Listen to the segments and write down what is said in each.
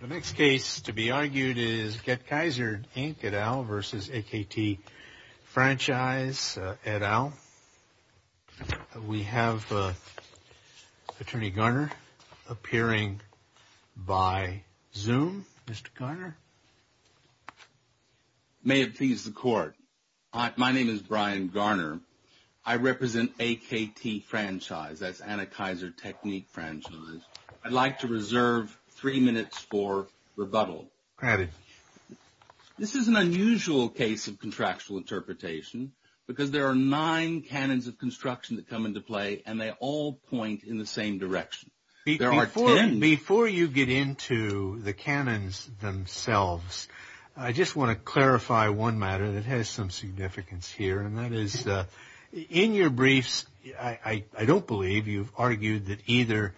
The next case to be argued is Get Kaisered Inc et al. v. AKT Franchise et al. We have Attorney Garner appearing by Zoom. Mr. Garner? May it please the Court, my name is Brian Garner. I represent AKT Franchise, that's Anakaiser Technique Franchise. I'd like to reserve three minutes for rebuttal. Granted. This is an unusual case of contractual interpretation because there are nine canons of construction that come into play and they all point in the same direction. Before you get into the canons themselves, I just want to clarify one matter that has some significance here, and that is in your briefs, I don't believe you've argued that either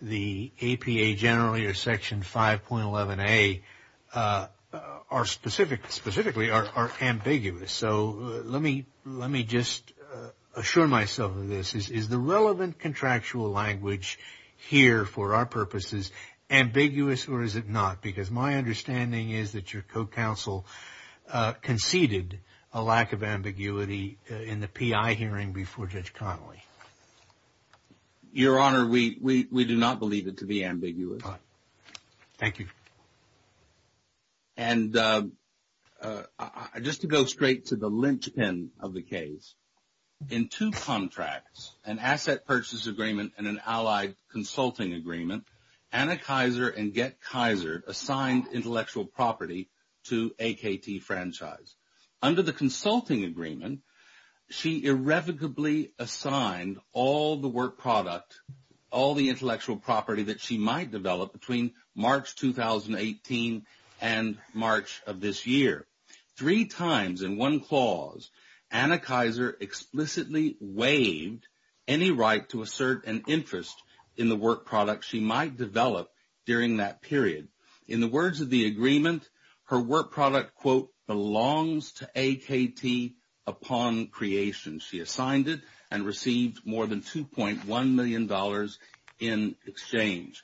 the APA generally or Section 5.11a are specific, specifically are ambiguous. So let me just assure myself of this. Is the relevant contractual language here for our purposes ambiguous or is it not? Because my understanding is that your co-counsel conceded a lack of ambiguity in the PI hearing before Judge Connolly. Your Honor, we do not believe it to be ambiguous. Thank you. And just to go straight to the linchpin of the case, in two contracts, an asset purchase agreement and an allied consulting agreement, Anna Kaiser and Get Kaiser assigned intellectual property to AKT Franchise. Under the consulting agreement, she irrevocably assigned all the work product, all the intellectual property that she might develop between March 2018 and March of this year. Three times in one clause, Anna Kaiser explicitly waived any right to assert an interest in the work product she might develop during that period. In the words of the agreement, her work product, quote, belongs to AKT upon creation. She assigned it and received more than $2.1 million in exchange.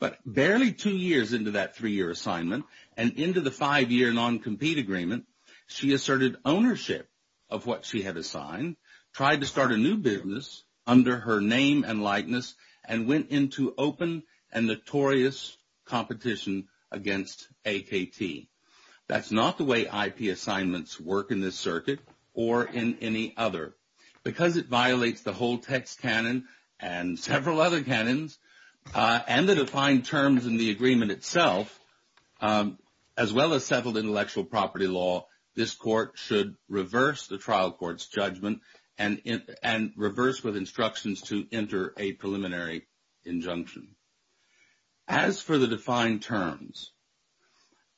But barely two years into that three-year assignment and into the five-year noncompete agreement, she asserted ownership of what she had assigned, tried to start a new business under her name and likeness, and went into open and notorious competition against AKT. That's not the way IP assignments work in this circuit or in any other. Because it violates the whole text canon and several other canons and the defined terms in the agreement itself, as well as settled intellectual property law, this court should reverse the trial court's judgment and reverse with instructions to enter a preliminary injunction. As for the defined terms,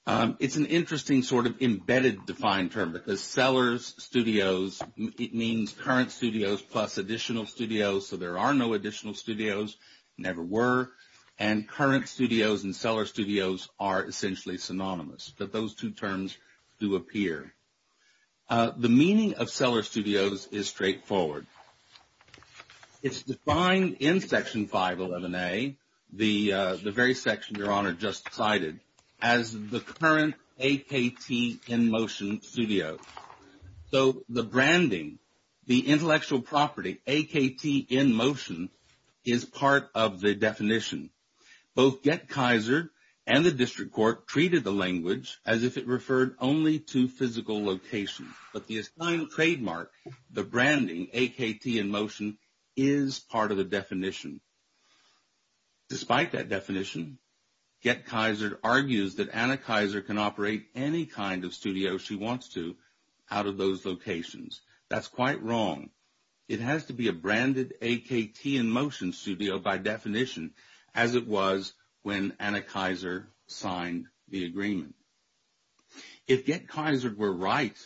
it's an interesting sort of embedded defined term because sellers, studios, it means current studios plus additional studios, so there are no additional studios, never were, and current studios and seller studios are essentially synonymous, but those two terms do appear. The meaning of seller studios is straightforward. It's defined in Section 511A, the very section Your Honor just cited, as the current AKT in motion studio. So the branding, the intellectual property, AKT in motion, is part of the definition. Both Gett-Kaiser and the district court treated the language as if it referred only to physical location, but the assigned trademark, the branding, AKT in motion, is part of the definition. Despite that definition, Gett-Kaiser argues that Anna Kaiser can operate any kind of studio she wants to out of those locations. That's quite wrong. It has to be a branded AKT in motion studio by definition, as it was when Anna Kaiser signed the agreement. If Gett-Kaiser were right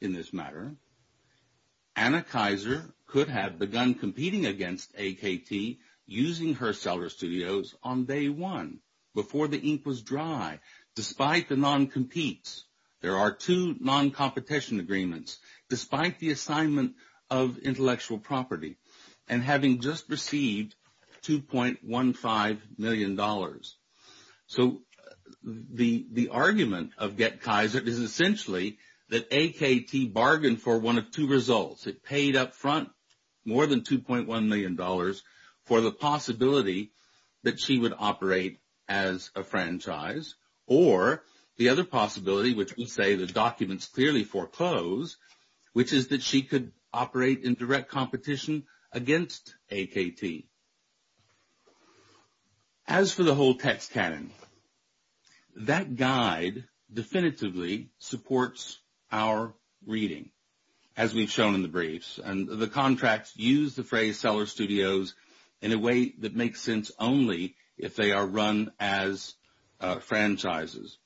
in this matter, Anna Kaiser could have begun competing against AKT using her seller studios on day one, before the ink was dry. Despite the non-competes, there are two non-competition agreements. Despite the assignment of intellectual property and having just received $2.15 million. So the argument of Gett-Kaiser is essentially that AKT bargained for one of two results. It paid up front more than $2.1 million for the possibility that she would operate as a franchise, or the other possibility, which would say the documents clearly foreclose, which is that she could operate in direct competition against AKT. As for the whole text canon, that guide definitively supports our reading, as we've shown in the briefs. And the contracts use the phrase seller studios in a way that makes sense only if they are run as franchises.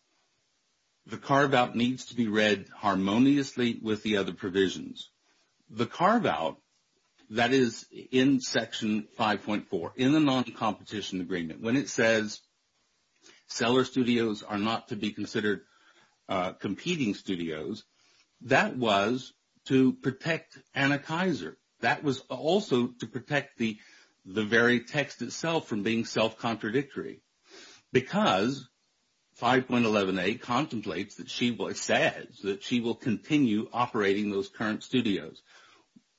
The carve-out needs to be read harmoniously with the other provisions. The carve-out, that is in Section 5.4, in the non-competition agreement, when it says seller studios are not to be considered competing studios, that was to protect Anna Kaiser. That was also to protect the very text itself from being self-contradictory. Because 5.11a contemplates that she will continue operating those current studios.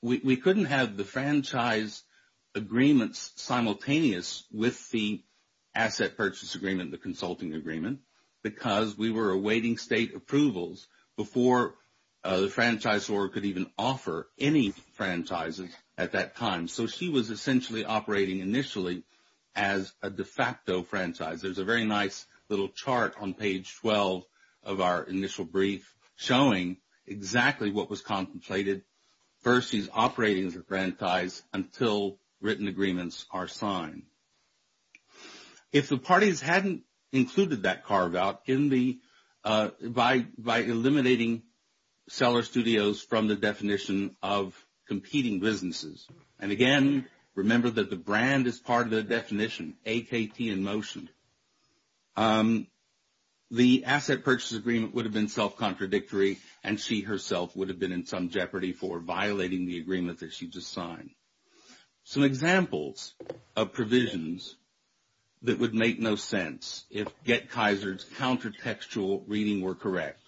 We couldn't have the franchise agreements simultaneous with the asset purchase agreement, the consulting agreement, because we were awaiting state approvals before the franchisor could even offer any franchises at that time. So she was essentially operating initially as a de facto franchise. There's a very nice little chart on page 12 of our initial brief showing exactly what was contemplated. First, she's operating as a franchise until written agreements are signed. If the parties hadn't included that carve-out, by eliminating seller studios from the definition of competing businesses, and again, remember that the brand is part of the definition, AKT in motion, the asset purchase agreement would have been self-contradictory and she herself would have been in some jeopardy for violating the agreement that she just signed. Some examples of provisions that would make no sense if GetKaiser's counter-textual reading were correct.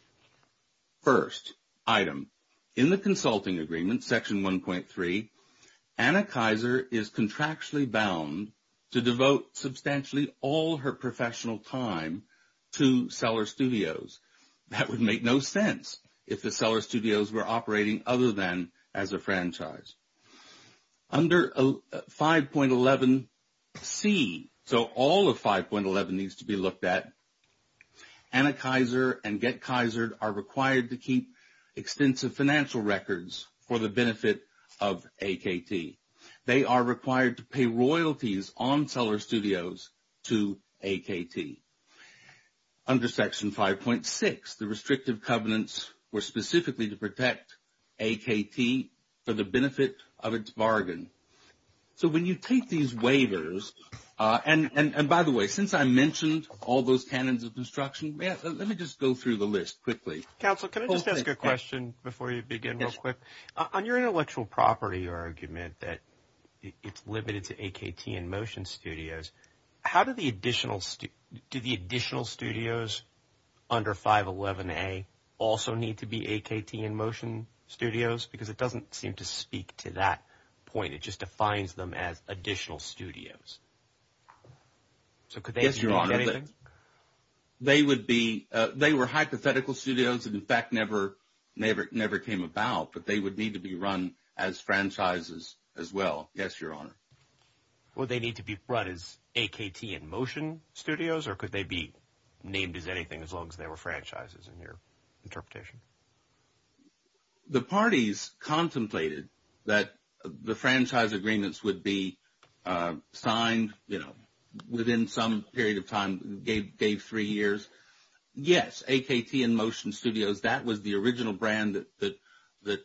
First item, in the consulting agreement, section 1.3, Anna Kaiser is contractually bound to devote substantially all her professional time to seller studios. That would make no sense if the seller studios were operating other than as a franchise. Under 5.11c, so all of 5.11 needs to be looked at, Anna Kaiser and GetKaiser are required to keep extensive financial records for the benefit of AKT. They are required to pay royalties on seller studios to AKT. Under section 5.6, the restrictive covenants were specifically to protect AKT for the benefit of its bargain. So when you take these waivers, and by the way, since I mentioned all those canons of construction, let me just go through the list quickly. Counsel, can I just ask a question before you begin real quick? On your intellectual property argument that it's limited to AKT and motion studios, how do the additional studios under 5.11a also need to be AKT and motion studios? Because it doesn't seem to speak to that point. It just defines them as additional studios. So could they be anything? Yes, Your Honor. They would be – they were hypothetical studios and, in fact, never came about, but they would need to be run as franchises as well. Yes, Your Honor. Would they need to be run as AKT and motion studios, or could they be named as anything as long as they were franchises in your interpretation? The parties contemplated that the franchise agreements would be signed, you know, within some period of time, gave three years. Yes, AKT and motion studios, that was the original brand that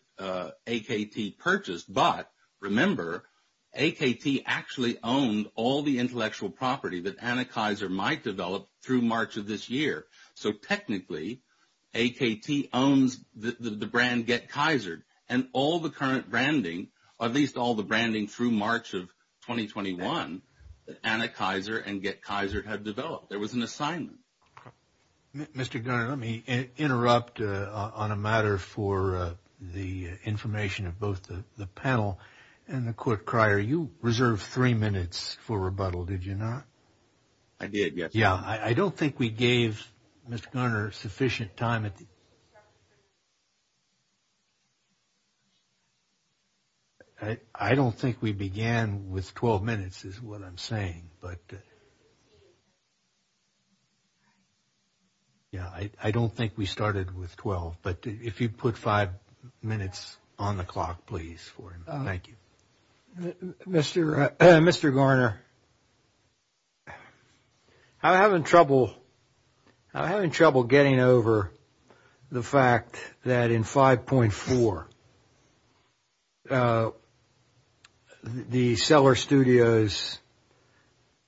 AKT purchased. But, remember, AKT actually owned all the intellectual property that Anakaiser might develop through March of this year. So, technically, AKT owns the brand GetKaiser, and all the current branding, or at least all the branding through March of 2021, that Anakaiser and GetKaiser had developed. There was an assignment. Mr. Gunner, let me interrupt on a matter for the information of both the panel and the court crier. You reserved three minutes for rebuttal, did you not? I did, yes. Yeah, I don't think we gave Mr. Gunner sufficient time. I don't think we began with 12 minutes is what I'm saying. Yeah, I don't think we started with 12. But if you put five minutes on the clock, please, for him. Thank you. Mr. Garner, I'm having trouble getting over the fact that in 5.4, the seller studios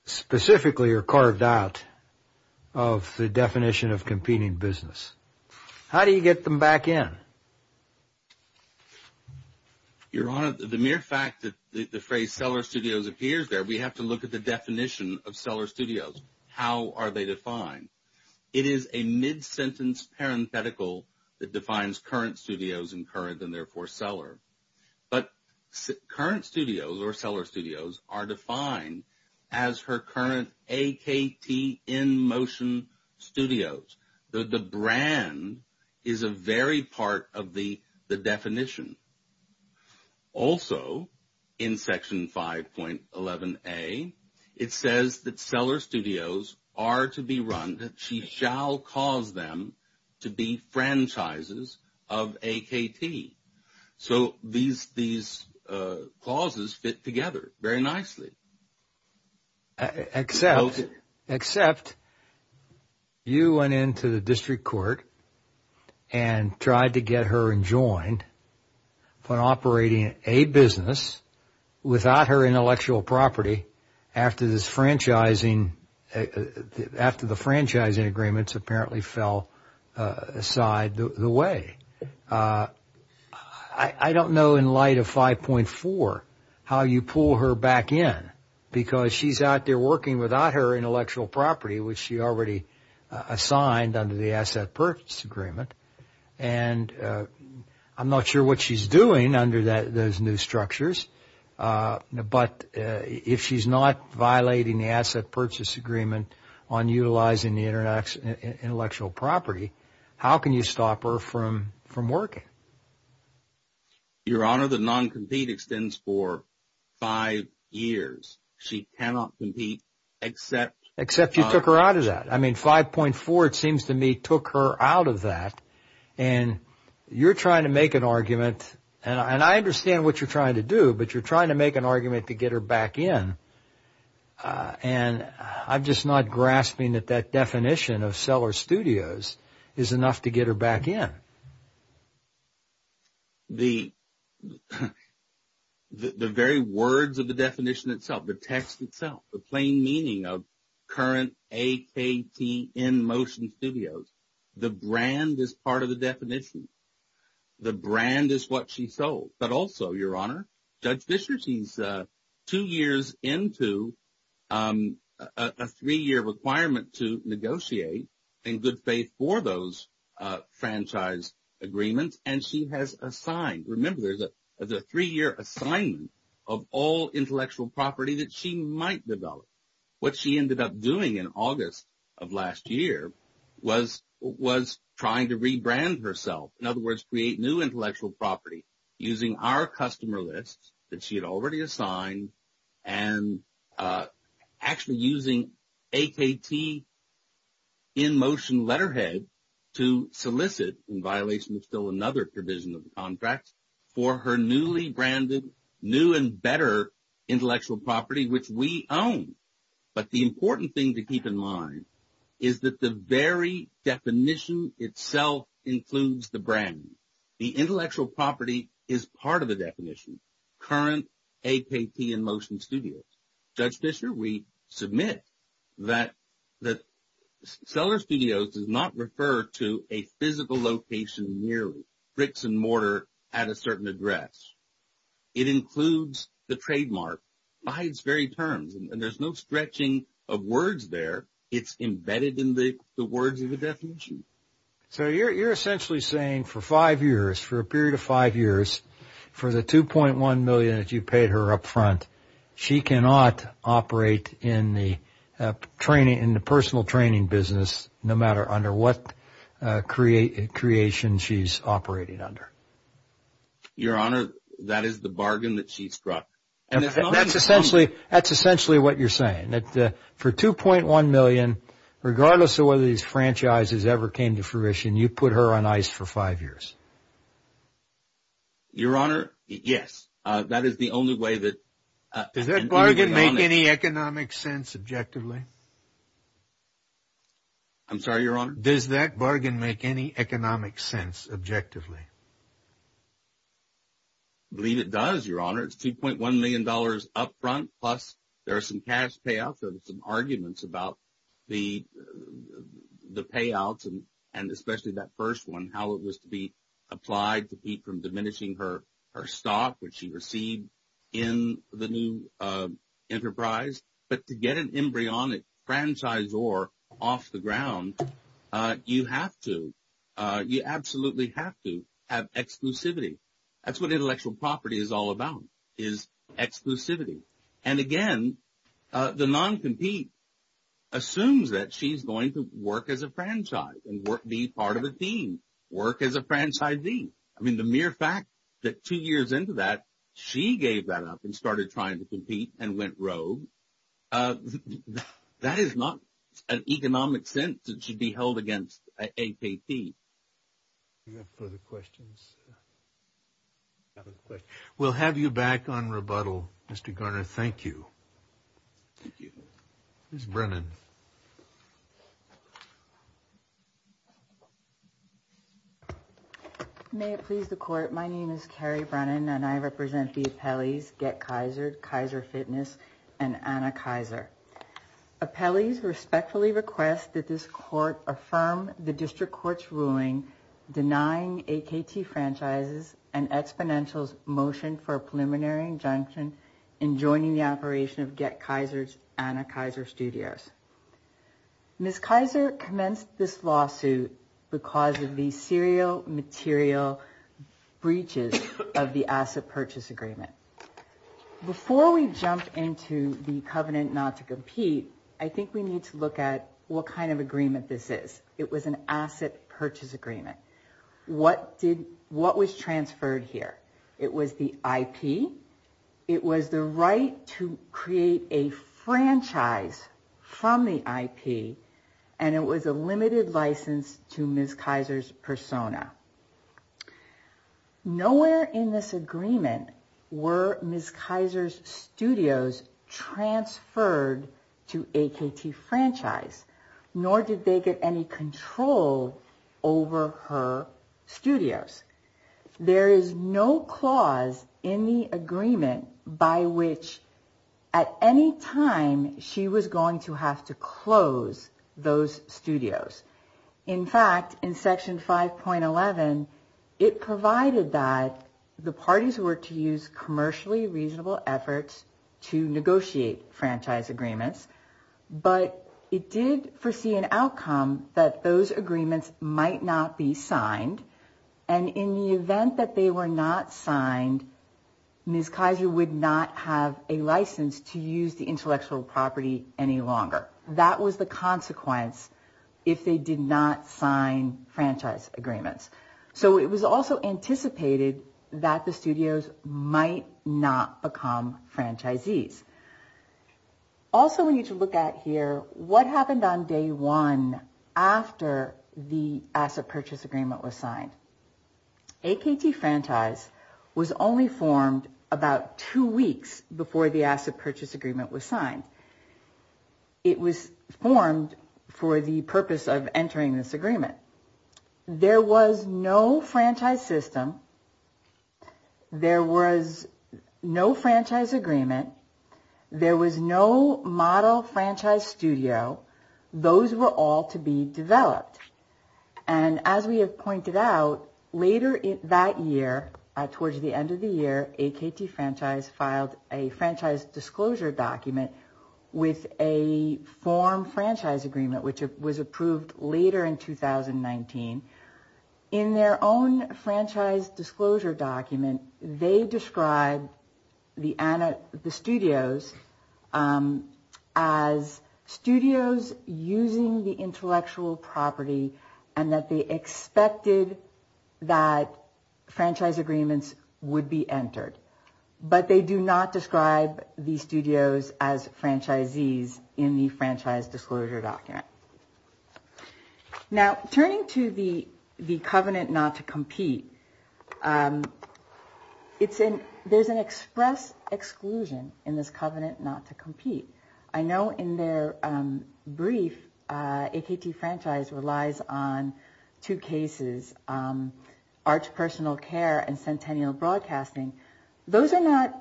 specifically are carved out of the definition of competing business. How do you get them back in? Your Honor, the mere fact that the phrase seller studios appears there, we have to look at the definition of seller studios. How are they defined? It is a mid-sentence parenthetical that defines current studios, and current, and therefore seller. But current studios, or seller studios, are defined as her current AKT InMotion Studios. The brand is a very part of the definition. Also, in Section 5.11a, it says that seller studios are to be run, that she shall cause them to be franchises of AKT. So these clauses fit together very nicely. Except you went into the district court and tried to get her enjoined on operating a business without her intellectual property after the franchising agreements apparently fell aside the way. I don't know in light of 5.4 how you pull her back in, because she's out there working without her intellectual property, which she already assigned under the Asset Purchase Agreement. And I'm not sure what she's doing under those new structures. But if she's not violating the Asset Purchase Agreement on utilizing the intellectual property, how can you stop her from working? Your Honor, the non-compete extends for five years. She cannot compete except… Except you took her out of that. I mean, 5.4, it seems to me, took her out of that. And you're trying to make an argument, and I understand what you're trying to do, but you're trying to make an argument to get her back in. And I'm just not grasping that that definition of seller studios is enough to get her back in. The very words of the definition itself, the text itself, the plain meaning of current AKT in motion studios, the brand is part of the definition. The brand is what she sold. But also, Your Honor, Judge Fischer, she's two years into a three-year requirement to negotiate, in good faith, for those franchise agreements, and she has assigned. Remember, there's a three-year assignment of all intellectual property that she might develop. What she ended up doing in August of last year was trying to rebrand herself, in other words, create new intellectual property using our customer list that she had already assigned and actually using AKT in motion letterhead to solicit, in violation of still another provision of the contract, for her newly branded new and better intellectual property, which we own. But the important thing to keep in mind is that the very definition itself includes the brand. The intellectual property is part of the definition, current AKT in motion studios. Judge Fischer, we submit that seller studios does not refer to a physical location merely, bricks and mortar at a certain address. It includes the trademark by its very terms, and there's no stretching of words there. It's embedded in the words of the definition. So you're essentially saying for five years, for a period of five years, for the $2.1 million that you paid her up front, she cannot operate in the personal training business no matter under what creation she's operating under. Your Honor, that is the bargain that she struck. That's essentially what you're saying, that for $2.1 million, regardless of whether these franchises ever came to fruition, you put her on ice for five years. Your Honor, yes. That is the only way that. Does that bargain make any economic sense objectively? I'm sorry, Your Honor? Does that bargain make any economic sense objectively? I believe it does, Your Honor. It's $2.1 million up front, plus there are some cash payouts. There are some arguments about the payouts, and especially that first one, how it was to be applied to keep from diminishing her stock, which she received in the new enterprise. But to get an embryonic franchisor off the ground, you have to, you absolutely have to have exclusivity. That's what intellectual property is all about, is exclusivity. And, again, the non-compete assumes that she's going to work as a franchise and be part of a team, work as a franchisee. I mean, the mere fact that two years into that, she gave that up and started trying to compete and went rogue, that is not an economic sense that should be held against APT. Do you have further questions? We'll have you back on rebuttal, Mr. Garner. Thank you. Thank you. Ms. Brennan. May it please the Court, my name is Carrie Brennan, and I represent the appellees Get Kaiser, Kaiser Fitness, and Anna Kaiser. Appellees respectfully request that this Court affirm the District Court's ruling denying AKT Franchises and Exponentials' motion for a preliminary injunction in joining the operation of Get Kaiser's Anna Kaiser Studios. Ms. Kaiser commenced this lawsuit because of the serial material breaches of the asset purchase agreement. Before we jump into the covenant not to compete, I think we need to look at what kind of agreement this is. It was an asset purchase agreement. What was transferred here? It was the IP, it was the right to create a franchise from the IP, and it was a limited license to Ms. Kaiser's persona. Nowhere in this agreement were Ms. Kaiser's studios transferred to AKT Franchise, nor did they get any control over her studios. There is no clause in the agreement by which at any time she was going to have to close those studios. In fact, in Section 5.11, it provided that the parties were to use commercially reasonable efforts to negotiate franchise agreements, but it did foresee an outcome that those agreements might not be signed, and in the event that they were not signed, Ms. Kaiser would not have a license to use the intellectual property any longer. That was the consequence if they did not sign franchise agreements. So it was also anticipated that the studios might not become franchisees. Also, we need to look at what happened on Day 1 after the asset purchase agreement was signed. AKT Franchise was only formed about two weeks before the asset purchase agreement was signed. It was formed for the purpose of entering this agreement. There was no franchise system. There was no franchise agreement. There was no model franchise studio. Those were all to be developed. And as we have pointed out, later that year, towards the end of the year, AKT Franchise filed a franchise disclosure document with a form franchise agreement, which was approved later in 2019. In their own franchise disclosure document, they described the studios as studios using the intellectual property and that they expected that franchise agreements would be entered. But they do not describe the studios as franchisees in the franchise disclosure document. Now, turning to the covenant not to compete, there's an express exclusion in this covenant not to compete. I know in their brief, AKT Franchise relies on two cases, Arch Personal Care and Centennial Broadcasting. Those are not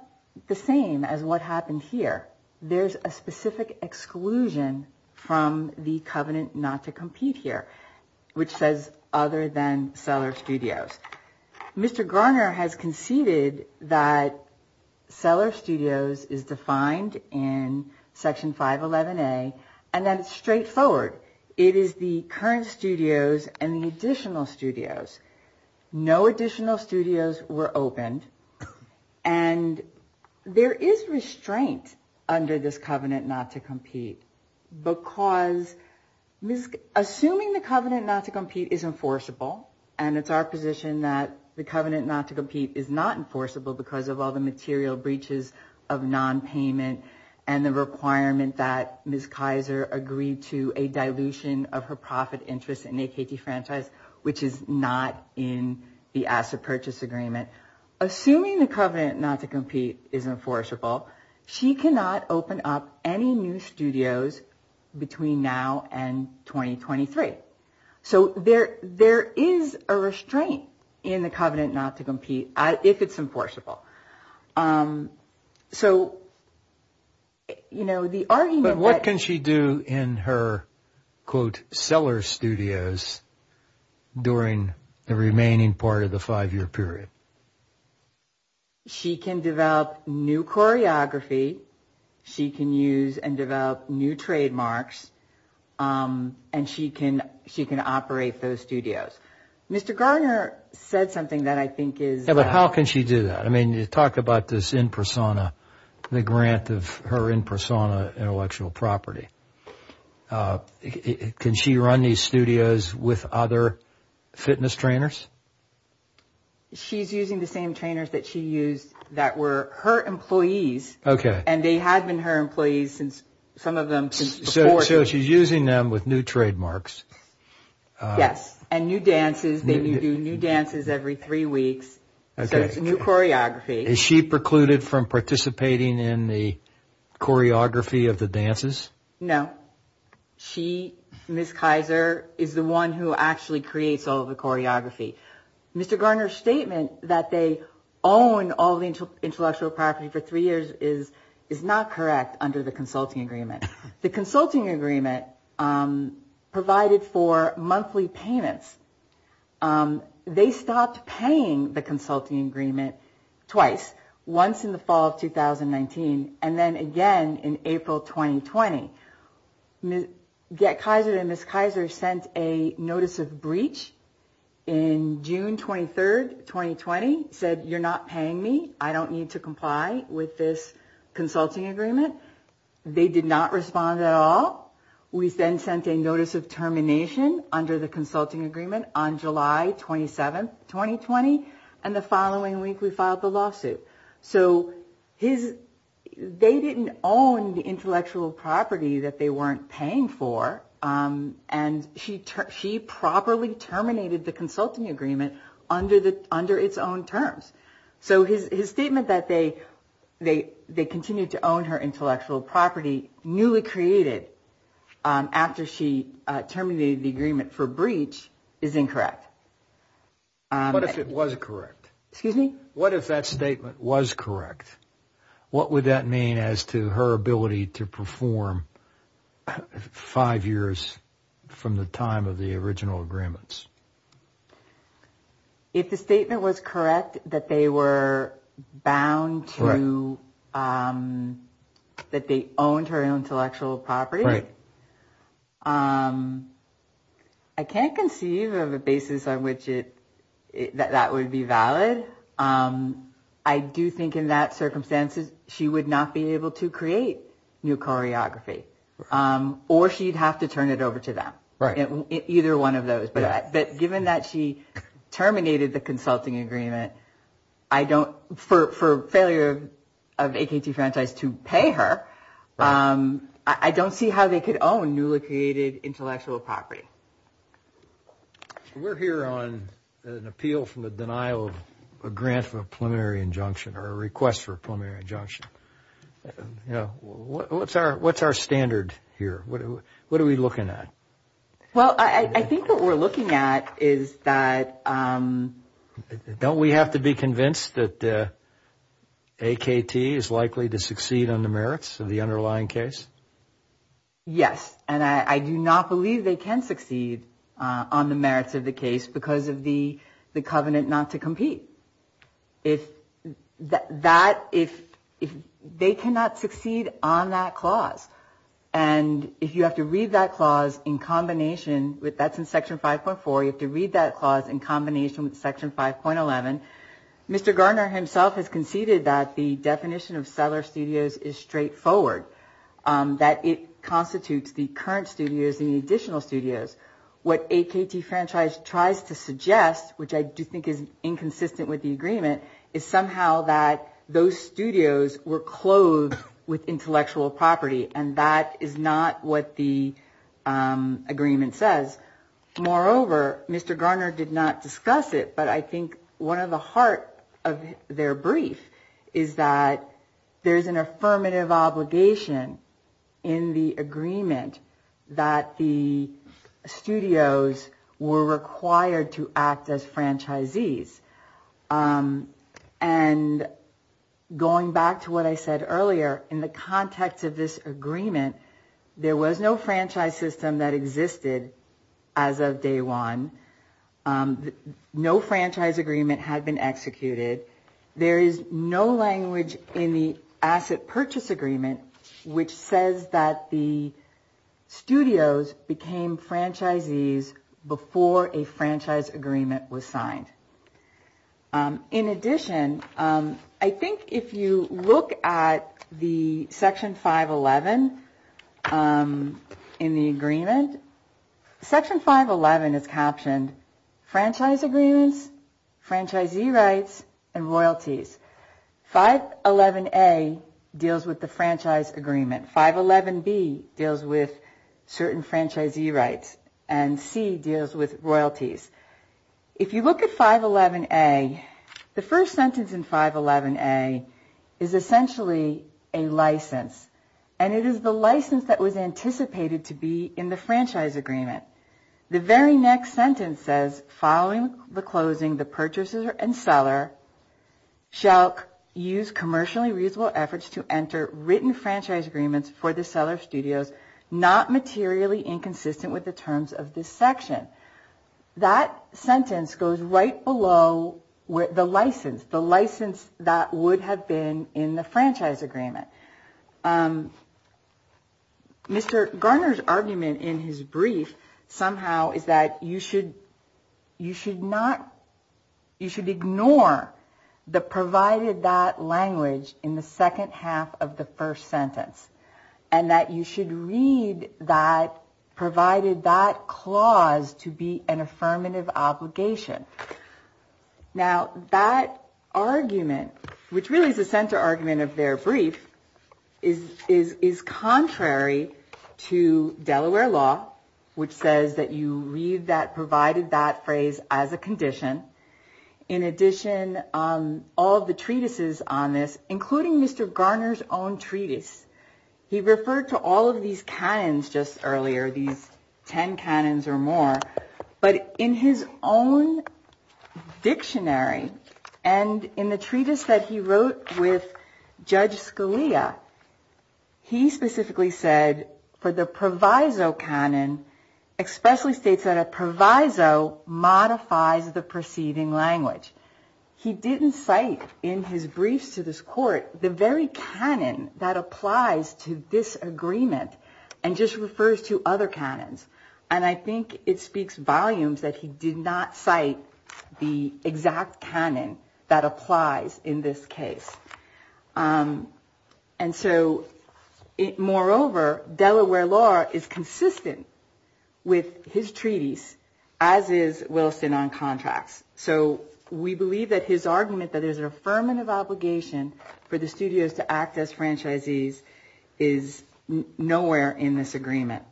the same as what happened here. There's a specific exclusion from the covenant not to compete here, which says other than Cellar Studios. Mr. Garner has conceded that Cellar Studios is defined in Section 511A and that it's straightforward. It is the current studios and the additional studios. No additional studios were opened. And there is restraint under this covenant not to compete because assuming the covenant not to compete is enforceable and it's our position that the covenant not to compete is not enforceable because of all the material breaches of nonpayment and the requirement that Ms. Kaiser agreed to a dilution of her profit interest in AKT Franchise, which is not in the asset purchase agreement. Assuming the covenant not to compete is enforceable, she cannot open up any new studios between now and 2023. So there is a restraint in the covenant not to compete if it's enforceable. But what can she do in her quote Cellar Studios during the remaining part of the five year period? She can develop new choreography. She can use and develop new trademarks. And she can operate those studios. Mr. Garner said something that I think is... Yeah, but how can she do that? I mean you talked about this in persona, the grant of her in persona intellectual property. Can she run these studios with other fitness trainers? She's using the same trainers that she used that were her employees. Okay. And they had been her employees since some of them... So she's using them with new trademarks. Yes. And new dances. They do new dances every three weeks. Okay. So it's new choreography. Is she precluded from participating in the choreography of the dances? She, Ms. Kaiser, is the one who actually creates all the choreography. Mr. Garner's statement that they own all the intellectual property for three years is not correct under the consulting agreement. The consulting agreement provided for monthly payments. They stopped paying the consulting agreement twice. Once in the fall of 2019 and then again in April 2020. GetKaiser and Ms. Kaiser sent a notice of breach in June 23, 2020. Said, you're not paying me. I don't need to comply with this consulting agreement. They did not respond at all. We then sent a notice of termination under the consulting agreement on July 27, 2020. And the following week we filed the lawsuit. So they didn't own the intellectual property that they weren't paying for. And she properly terminated the consulting agreement under its own terms. So his statement that they continued to own her intellectual property newly created after she terminated the agreement for breach is incorrect. What if it was correct? Excuse me? What if that statement was correct? What would that mean as to her ability to perform five years from the time of the original agreements? If the statement was correct that they were bound to, that they owned her intellectual property. Right. I can't conceive of a basis on which that would be valid. I do think in that circumstances she would not be able to create new choreography. Or she'd have to turn it over to them. Right. Either one of those. But given that she terminated the consulting agreement for failure of AKT Franchise to pay her. I don't see how they could own newly created intellectual property. We're here on an appeal from the denial of a grant for a preliminary injunction or a request for a preliminary injunction. What's our standard here? What are we looking at? Well, I think what we're looking at is that... Yes. And I do not believe they can succeed on the merits of the case because of the covenant not to compete. If they cannot succeed on that clause and if you have to read that clause in combination, that's in Section 5.4, you have to read that clause in combination with Section 5.11. Mr. Garner himself has conceded that the definition of seller studios is straightforward. That it constitutes the current studios, the additional studios. What AKT Franchise tries to suggest, which I do think is inconsistent with the agreement, is somehow that those studios were clothed with intellectual property. And that is not what the agreement says. Moreover, Mr. Garner did not discuss it, but I think one of the heart of their brief is that there is an affirmative obligation in the agreement that the studios were required to act as franchisees. And going back to what I said earlier, in the context of this agreement, there was no franchise system that existed as of day one. No franchise agreement had been executed. There is no language in the asset purchase agreement which says that the studios became franchisees before a franchise agreement was signed. In addition, I think if you look at the Section 5.11 in the agreement, Section 5.11 is captioned Franchise Agreements, Franchisee Rights, and Royalties. 5.11A deals with the franchise agreement. 5.11B deals with certain franchisee rights. And 5.11C deals with royalties. If you look at 5.11A, the first sentence in 5.11A is essentially a license. And it is the license that was anticipated to be in the franchise agreement. The very next sentence says, following the closing, the purchaser and seller shall use commercially reasonable efforts to enter written franchise agreements for the seller of studios not materially inconsistent with the terms of this section. That sentence goes right below the license, the license that would have been in the franchise agreement. Mr. Garner's argument in his brief somehow is that you should ignore the provided that language in the second half of the first sentence. And that you should read that provided that clause to be an affirmative obligation. Now, that argument, which really is the center argument of their brief, is contrary to Delaware law, which says that you read that provided that phrase as a condition. In addition, all of the treatises on this, including Mr. Garner's own treatise, he referred to all of these canons just earlier, these ten canons or more. But in his own dictionary, and in the treatise that he wrote with Judge Scalia, he specifically said for the proviso canon, expressly states that a proviso modifies the preceding language. He didn't cite in his briefs to this court the very canon that applies to this agreement and just refers to other canons. And I think it speaks volumes that he did not cite the exact canon that applies in this case. And so, moreover, Delaware law is consistent with his treatise, as is Wilson on contracts. So we believe that his argument that there's an affirmative obligation for the studios to act as franchisees is nowhere in this agreement.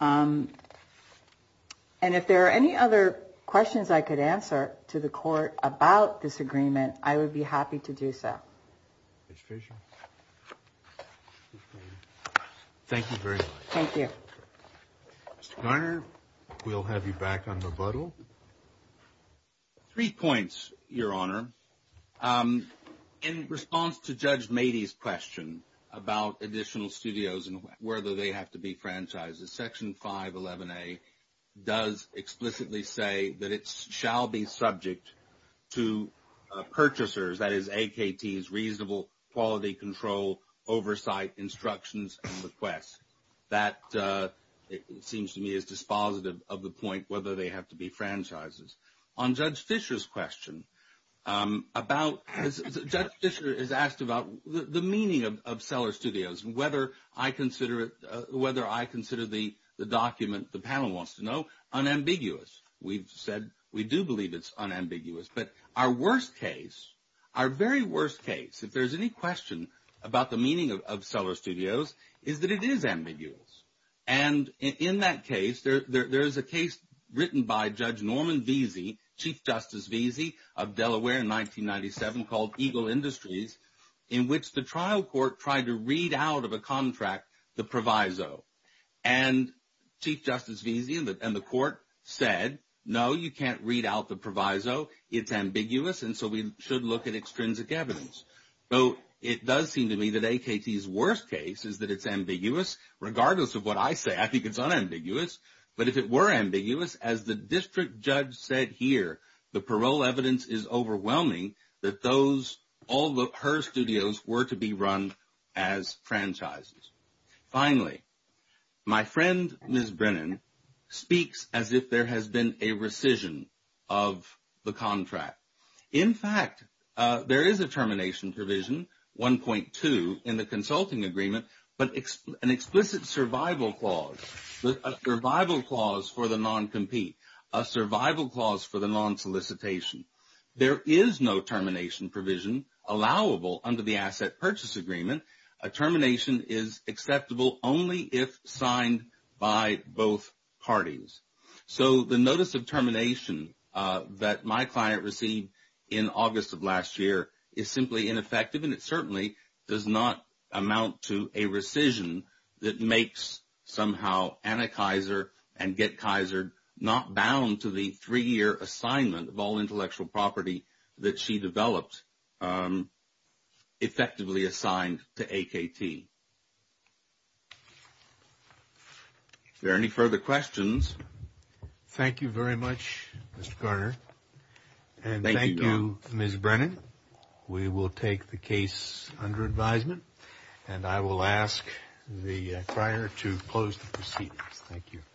And if there are any other questions I could answer to the court about this agreement, I would be happy to do so. Judge Fischer. Thank you very much. Thank you. Mr. Garner, we'll have you back on rebuttal. Three points, Your Honor. In response to Judge Mady's question about additional studios and whether they have to be franchises, Section 511A does explicitly say that it shall be subject to purchasers, that is, AKT's reasonable quality control oversight instructions and requests. That, it seems to me, is dispositive of the point whether they have to be franchises. On Judge Fischer's question, Judge Fischer is asked about the meaning of seller studios and whether I consider the document the panel wants to know unambiguous. We've said we do believe it's unambiguous. But our worst case, our very worst case, if there's any question about the meaning of seller studios, is that it is ambiguous. And in that case, there is a case written by Judge Norman Veazey, Chief Justice Veazey of Delaware in 1997 called Eagle Industries, in which the trial court tried to read out of a contract the proviso. And Chief Justice Veazey and the court said, no, you can't read out the proviso. It's ambiguous, and so we should look at extrinsic evidence. So it does seem to me that AKT's worst case is that it's ambiguous, regardless of what I say. I think it's unambiguous. But if it were ambiguous, as the district judge said here, the parole evidence is overwhelming that all her studios were to be run as franchises. Finally, my friend, Ms. Brennan, speaks as if there has been a rescission of the contract. In fact, there is a termination provision, 1.2, in the consulting agreement, but an explicit survival clause, a survival clause for the non-compete, a survival clause for the non-solicitation. There is no termination provision allowable under the asset purchase agreement. A termination is acceptable only if signed by both parties. So the notice of termination that my client received in August of last year is simply ineffective, and it certainly does not amount to a rescission that makes somehow Anna Kaiser and Get Kaiser not bound to the three-year assignment of all intellectual property that she developed, effectively assigned to AKT. Are there any further questions? Thank you very much, Mr. Garner. And thank you, Ms. Brennan. We will take the case under advisement, and I will ask the crier to close the proceedings. Thank you.